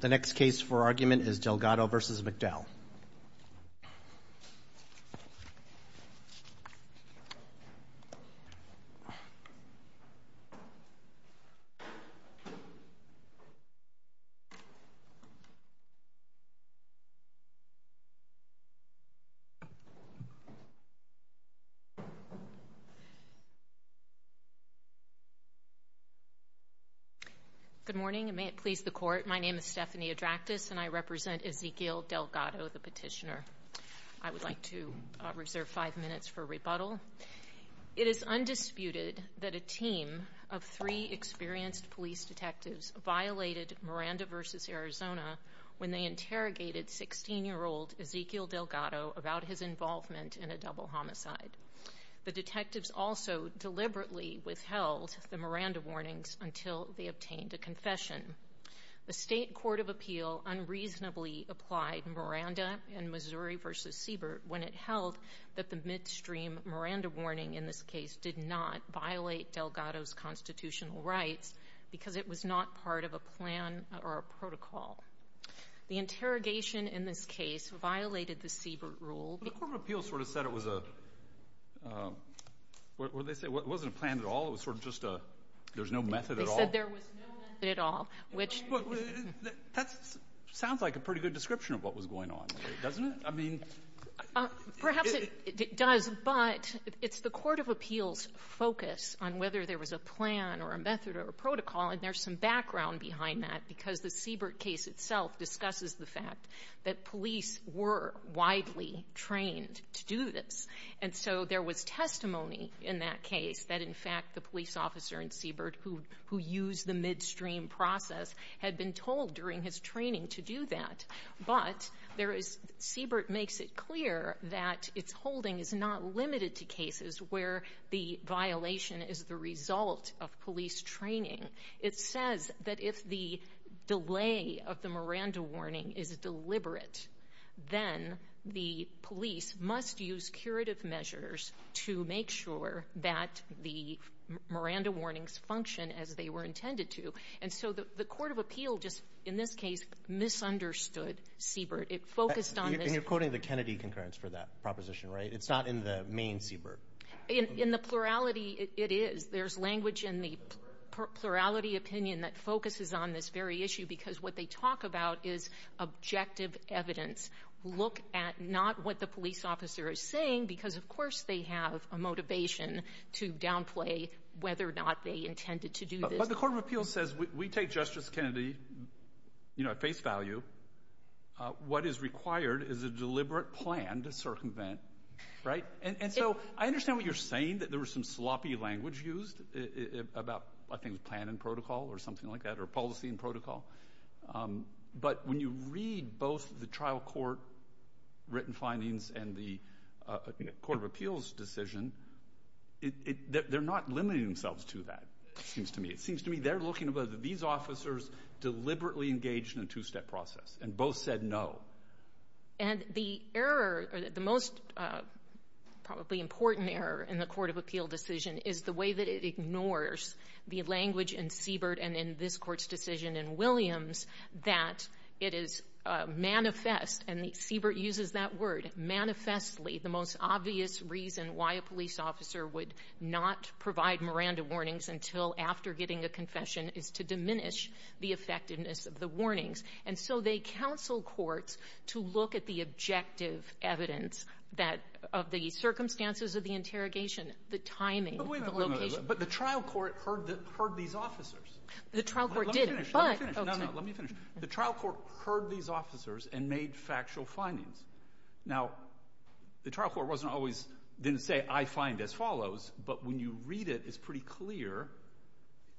The next case for argument is Delgado v. McDowell Good morning. May it please the Court, my name is Stephanie Adractas and I represent Ezequiel Delgado, the petitioner. I would like to reserve five minutes for rebuttal. It is undisputed that a team of three experienced police detectives violated Miranda v. Arizona when they interrogated 16-year-old Ezequiel Delgado about his involvement in a double homicide. The detectives also deliberately withheld the Miranda warnings until they obtained a confession. The State Court of Appeal unreasonably applied Miranda and Missouri v. Siebert when it held that the midstream Miranda warning in this case did not violate Delgado's constitutional rights because it was not part of a plan or a protocol. The interrogation in this case violated the Siebert rule. The Court of Appeal sort of said it was a, what did they say? It wasn't a plan at all, it was sort of just a, there's no method at all? They said there was no method at all, which That sounds like a pretty good description of what was going on, doesn't it? I mean Perhaps it does, but it's the Court of Appeal's focus on whether there was a plan or a method or a protocol and there's some background behind that because the Siebert case itself discusses the fact that police were widely trained to do this and so there was testimony in that case that in fact the police officer in Siebert who used the midstream process had been told during his training to do that but Siebert makes it clear that its holding is not limited to cases where the violation is the result of police training. It says that if the delay of the Miranda warning is deliberate then the police must use curative measures to make sure that the Miranda warnings function as they were intended to and so the Court of Appeal just, in this case, misunderstood Siebert. It focused on this And you're quoting the Kennedy concurrence for that proposition, right? It's not in the main Siebert In the plurality, it is. There's language in the plurality opinion that focuses on this very issue because what they talk about is objective evidence. Look at not what the police officer is saying because of course they have a motivation to downplay whether or not they intended to do this. But the Court of Appeal says we take Justice Kennedy at face value. What is required is a deliberate plan to circumvent, right? And so I understand what you're saying, that there was some sloppy language used about, I think, plan and protocol or something like that, or policy and protocol. But when you read both the trial court written findings and the Court of Appeal's decision, they're not limiting themselves to that, it seems to me. It seems to me they're looking at whether these officers deliberately engaged in a two-step process and both said no. And the error, or the most probably important error in the Court of Appeal decision is the way that it ignores the language in Siebert and in this Court's decision in Williams that it is manifest, and Siebert uses that word, manifestly the most obvious reason why a police officer would not provide Miranda warnings until after getting a confession is to diminish the effectiveness of the warnings. And so they counsel courts to look at the objective evidence of the circumstances of the interrogation, the timing, the location. But the trial court heard these officers. The trial court didn't. Let me finish. The trial court heard these officers and made factual findings. Now, the trial court wasn't always, didn't say, I find as follows. But when you read it, it's pretty clear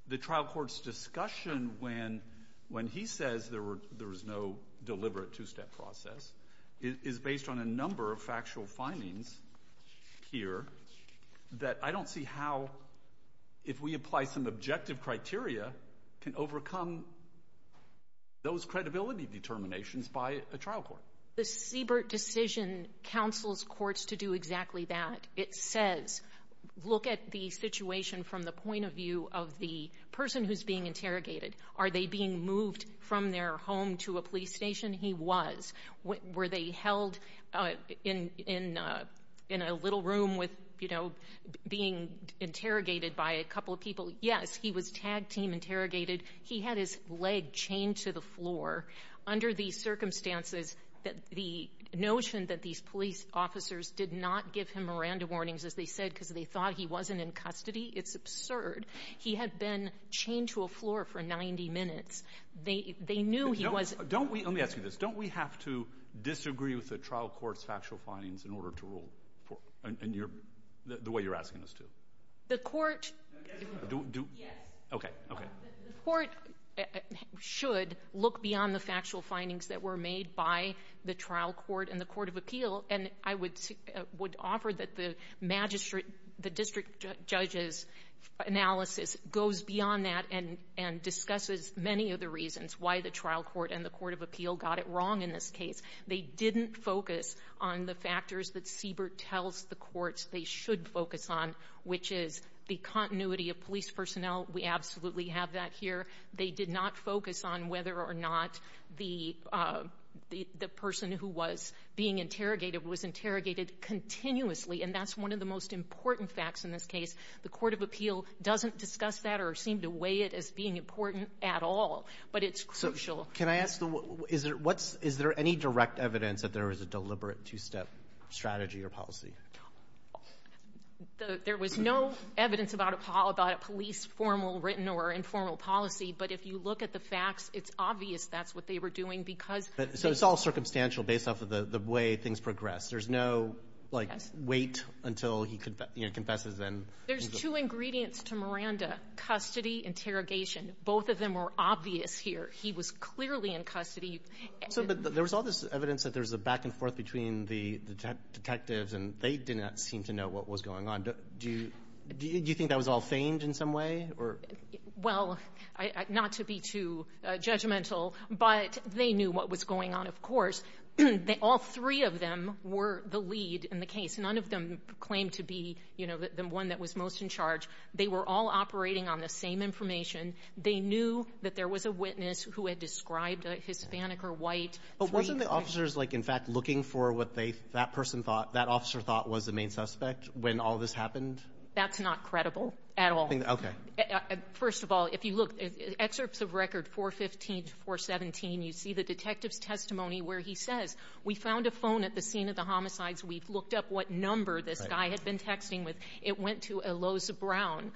the trial court's discussion when he says there was no deliberate two-step process is based on a number of factual findings here that I don't see how, if we apply some objective criteria, can overcome those credibility determinations by a trial court. The Siebert decision counsels courts to do exactly that. It says, look at the situation from the point of view of the person who's being interrogated. Are they being moved from their home to a police station? He was. Were they held in a little room with, you know, being interrogated by a couple of people? Yes, he was tag team interrogated. He had his leg chained to the floor. Under these circumstances, the notion that these police officers did not give him Miranda warnings, as they said, because they thought he wasn't in custody, it's absurd. He had been chained to a floor for 90 minutes. They knew he was. Let me ask you this. Don't we have to disagree with the trial court's factual findings in order to rule, the way you're asking us to? The court. Yes. Okay. Okay. The court should look beyond the factual findings that were made by the trial court and the court of appeal. And I would offer that the magistrate, the district judge's analysis goes beyond that and discusses many of the reasons why the trial court and the court of appeal got it wrong in this case. They didn't focus on the factors that Siebert tells the courts they should focus on, which is the continuity of police personnel. We absolutely have that here. They did not focus on whether or not the person who was being interrogated was interrogated continuously, and that's one of the most important facts in this case. The court of appeal doesn't discuss that or seem to weigh it as being important at all, but it's crucial. Can I ask, is there any direct evidence that there was a deliberate two-step strategy or policy? There was no evidence about it, Paul, about a police formal written or informal policy, but if you look at the facts, it's obvious that's what they were doing because they ---- So it's all circumstantial based off of the way things progressed. There's no, like, wait until he confesses and ---- There's two ingredients to Miranda, custody, interrogation. Both of them were obvious here. He was clearly in custody. But there was all this evidence that there was a back and forth between the detectives, and they did not seem to know what was going on. Do you think that was all feigned in some way or ---- Well, not to be too judgmental, but they knew what was going on, of course. All three of them were the lead in the case. None of them claimed to be, you know, the one that was most in charge. They were all operating on the same information. They knew that there was a witness who had described a Hispanic or white. But wasn't the officers, like, in fact, looking for what that person thought, that officer thought was the main suspect when all this happened? That's not credible at all. First of all, if you look, excerpts of record 415 to 417, you see the detective's testimony where he says, we found a phone at the scene of the homicides. We've looked up what number this guy had been texting with. It went to a Lowe's Brown,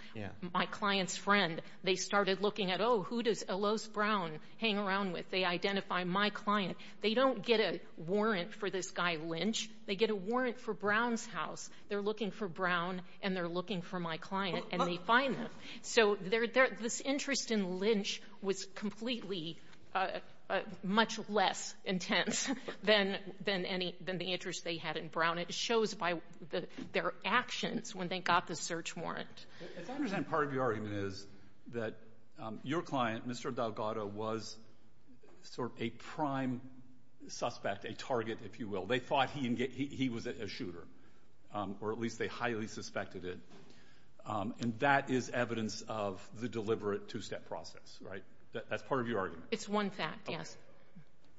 my client's friend. They started looking at, oh, who does a Lowe's Brown hang around with? They identify my client. They don't get a warrant for this guy Lynch. They get a warrant for Brown's house. They're looking for Brown, and they're looking for my client, and they find them. So this interest in Lynch was completely much less intense than the interest they had in Brown. It shows by their actions when they got the search warrant. As I understand, part of your argument is that your client, Mr. Delgado, was sort of a prime suspect, a target, if you will. They thought he was a shooter, or at least they highly suspected it, and that is evidence of the deliberate two-step process, right? That's part of your argument. It's one fact, yes.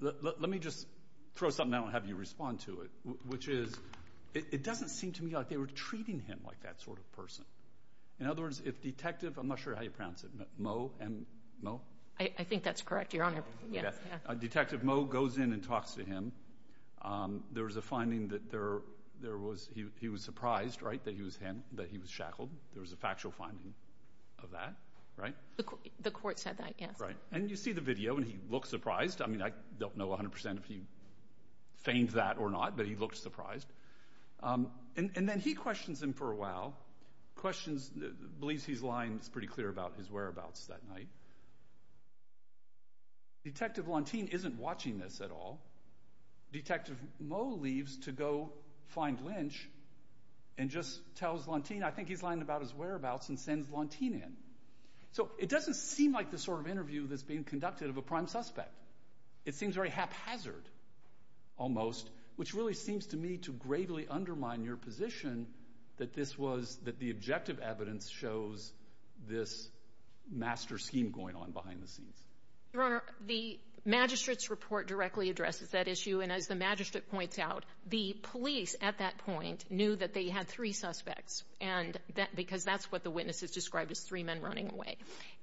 Let me just throw something out and have you respond to it, which is it doesn't seem to me like they were treating him like that sort of person. In other words, if Detective—I'm not sure how you pronounce it, Moe? I think that's correct, Your Honor. Detective Moe goes in and talks to him. There was a finding that he was surprised, right, that he was shackled. There was a factual finding of that, right? The court said that, yes. Right, and you see the video, and he looks surprised. I mean, I don't know 100% if he feigned that or not, but he looked surprised. And then he questions him for a while, believes he's lying pretty clear about his whereabouts that night. Detective Lantin isn't watching this at all. Detective Moe leaves to go find Lynch and just tells Lantin, I think he's lying about his whereabouts, and sends Lantin in. So it doesn't seem like the sort of interview that's being conducted of a prime suspect. It seems very haphazard almost, which really seems to me to gravely undermine your position that this was— that the objective evidence shows this master scheme going on behind the scenes. Your Honor, the magistrate's report directly addresses that issue, and as the magistrate points out, the police at that point knew that they had three suspects because that's what the witnesses described as three men running away.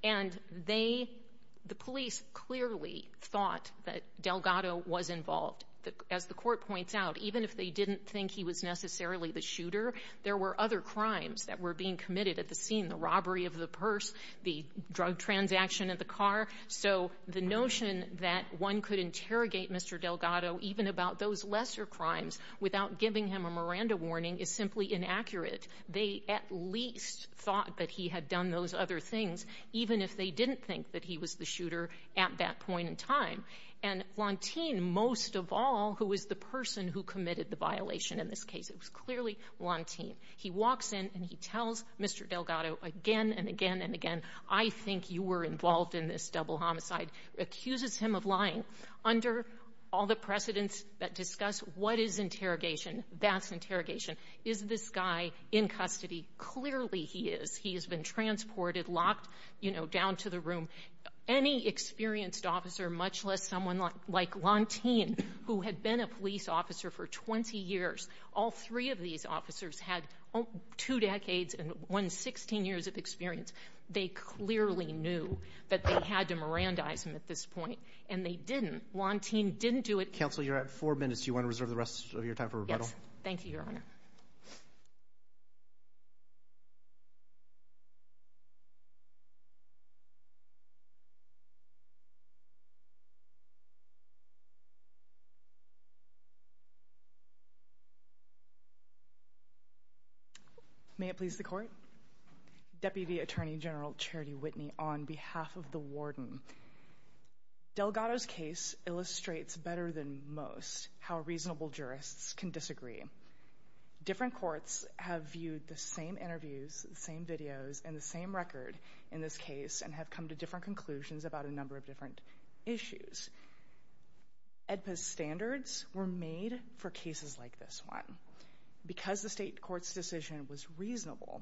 And they—the police clearly thought that Delgado was involved. As the court points out, even if they didn't think he was necessarily the shooter, there were other crimes that were being committed at the scene— the robbery of the purse, the drug transaction at the car. So the notion that one could interrogate Mr. Delgado even about those lesser crimes without giving him a Miranda warning is simply inaccurate. They at least thought that he had done those other things, even if they didn't think that he was the shooter at that point in time. And Lantin, most of all, who was the person who committed the violation in this case, it was clearly Lantin. He walks in and he tells Mr. Delgado again and again and again, I think you were involved in this double homicide, accuses him of lying. Under all the precedents that discuss what is interrogation, that's interrogation. Is this guy in custody? Clearly he is. He has been transported, locked, you know, down to the room. Any experienced officer, much less someone like Lantin, who had been a police officer for 20 years, all three of these officers had two decades and one—16 years of experience. They clearly knew that they had to Mirandize him at this point. And they didn't. Lantin didn't do it. Counsel, you're at four minutes. Do you want to reserve the rest of your time for rebuttal? Yes. Thank you, Your Honor. May it please the Court. Deputy Attorney General Charity Whitney, on behalf of the warden, Delgado's case illustrates better than most how reasonable jurists can disagree. Different courts have viewed the same interviews, the same videos, and the same record in this case and have come to different conclusions about a number of different issues. AEDPA's standards were made for cases like this one. Because the state court's decision was reasonable,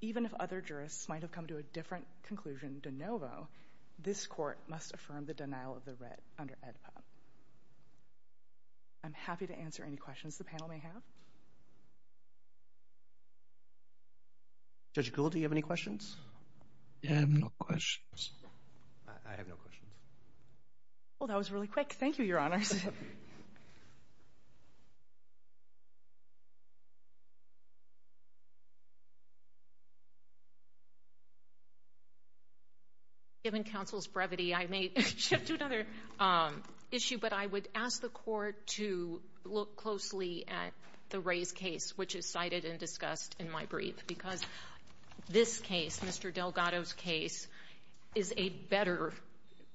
even if other jurists might have come to a different conclusion de novo, this court must affirm the denial of the writ under AEDPA. I'm happy to answer any questions the panel may have. Judge Gould, do you have any questions? I have no questions. I have no questions. Well, that was really quick. Thank you, Your Honors. Given counsel's brevity, I may shift to another issue, but I would ask the Court to look closely at the Rays case, which is cited and discussed in my brief, because this case, Mr. Delgado's case, is a better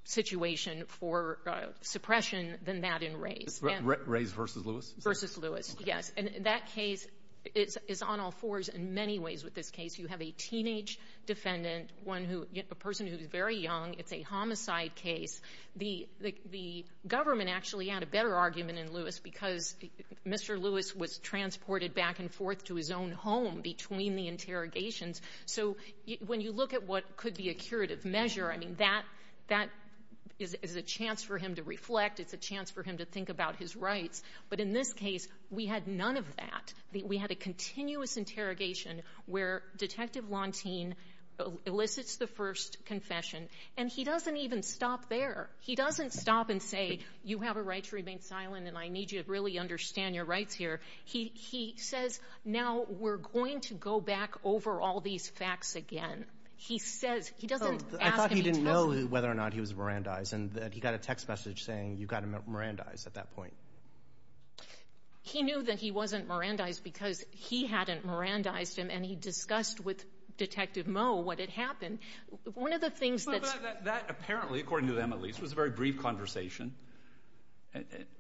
situation for suppression than that in Rays. Rays v. Lewis? Versus Lewis, yes. Okay. And that case is on all fours in many ways with this case. You have a teenage defendant, a person who is very young. It's a homicide case. The government actually had a better argument in Lewis because Mr. Lewis was transported back and forth to his own home between the interrogations. So when you look at what could be a curative measure, I mean, that is a chance for him to reflect. It's a chance for him to think about his rights. But in this case, we had none of that. We had a continuous interrogation where Detective Lontin elicits the first confession, and he doesn't even stop there. He doesn't stop and say, you have a right to remain silent, and I need you to really understand your rights here. He says, now we're going to go back over all these facts again. He says, he doesn't ask any time. I thought he didn't know whether or not he was Mirandized, and he got a text message saying you got him at Mirandized at that point. He knew that he wasn't Mirandized because he hadn't Mirandized him, and he discussed with Detective Moe what had happened. One of the things that's – That apparently, according to them at least, was a very brief conversation,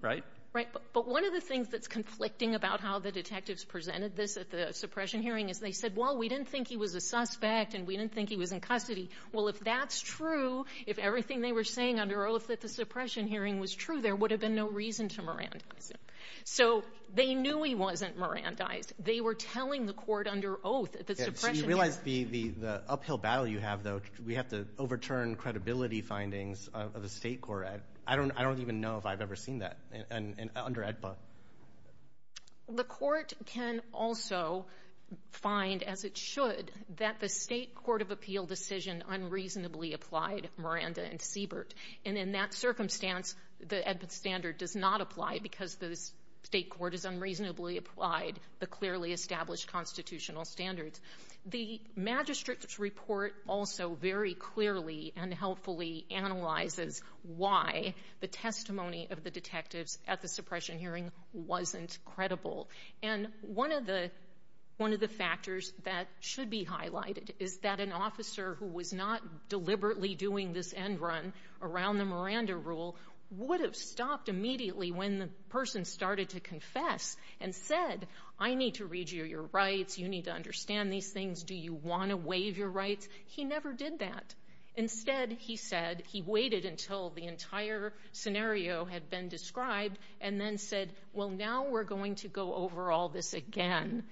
right? Right. But one of the things that's conflicting about how the detectives presented this at the suppression hearing is they said, well, we didn't think he was a suspect, and we didn't think he was in custody. Well, if that's true, if everything they were saying under oath at the suppression hearing was true, there would have been no reason to Mirandize him. So they knew he wasn't Mirandized. They were telling the court under oath at the suppression hearing. You realize the uphill battle you have, though. We have to overturn credibility findings of the state court. I don't even know if I've ever seen that under AEDPA. The court can also find, as it should, that the state court of appeal decision unreasonably applied Miranda and Siebert. And in that circumstance, the AEDPA standard does not apply because the state court has unreasonably applied the clearly established constitutional standards. The magistrate's report also very clearly and helpfully analyzes why the testimony of the detectives at the suppression hearing wasn't credible. And one of the factors that should be highlighted is that an officer who was not deliberately doing this end run around the Miranda rule would have stopped immediately when the person started to confess and said, I need to read you your rights, you need to understand these things, do you want to waive your rights? He never did that. Instead, he said he waited until the entire scenario had been described and then said, well, now we're going to go over all this again.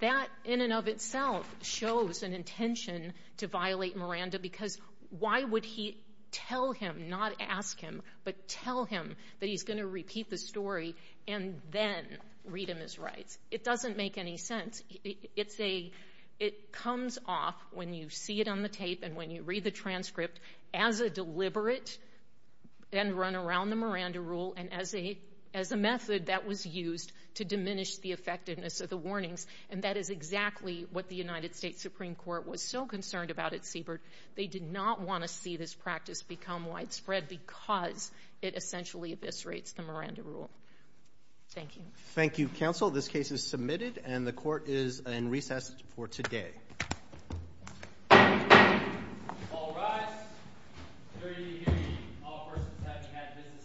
That in and of itself shows an intention to violate Miranda because why would he tell him, not ask him, but tell him that he's going to repeat the story and then read him his rights? It doesn't make any sense. It comes off when you see it on the tape and when you read the transcript as a deliberate end run around the Miranda rule and as a method that was used to diminish the effectiveness of the warnings. And that is exactly what the United States Supreme Court was so concerned about at Siebert. They did not want to see this practice become widespread because it essentially eviscerates the Miranda rule. Thank you. Thank you, counsel. This case is submitted and the court is in recess for today. All rise.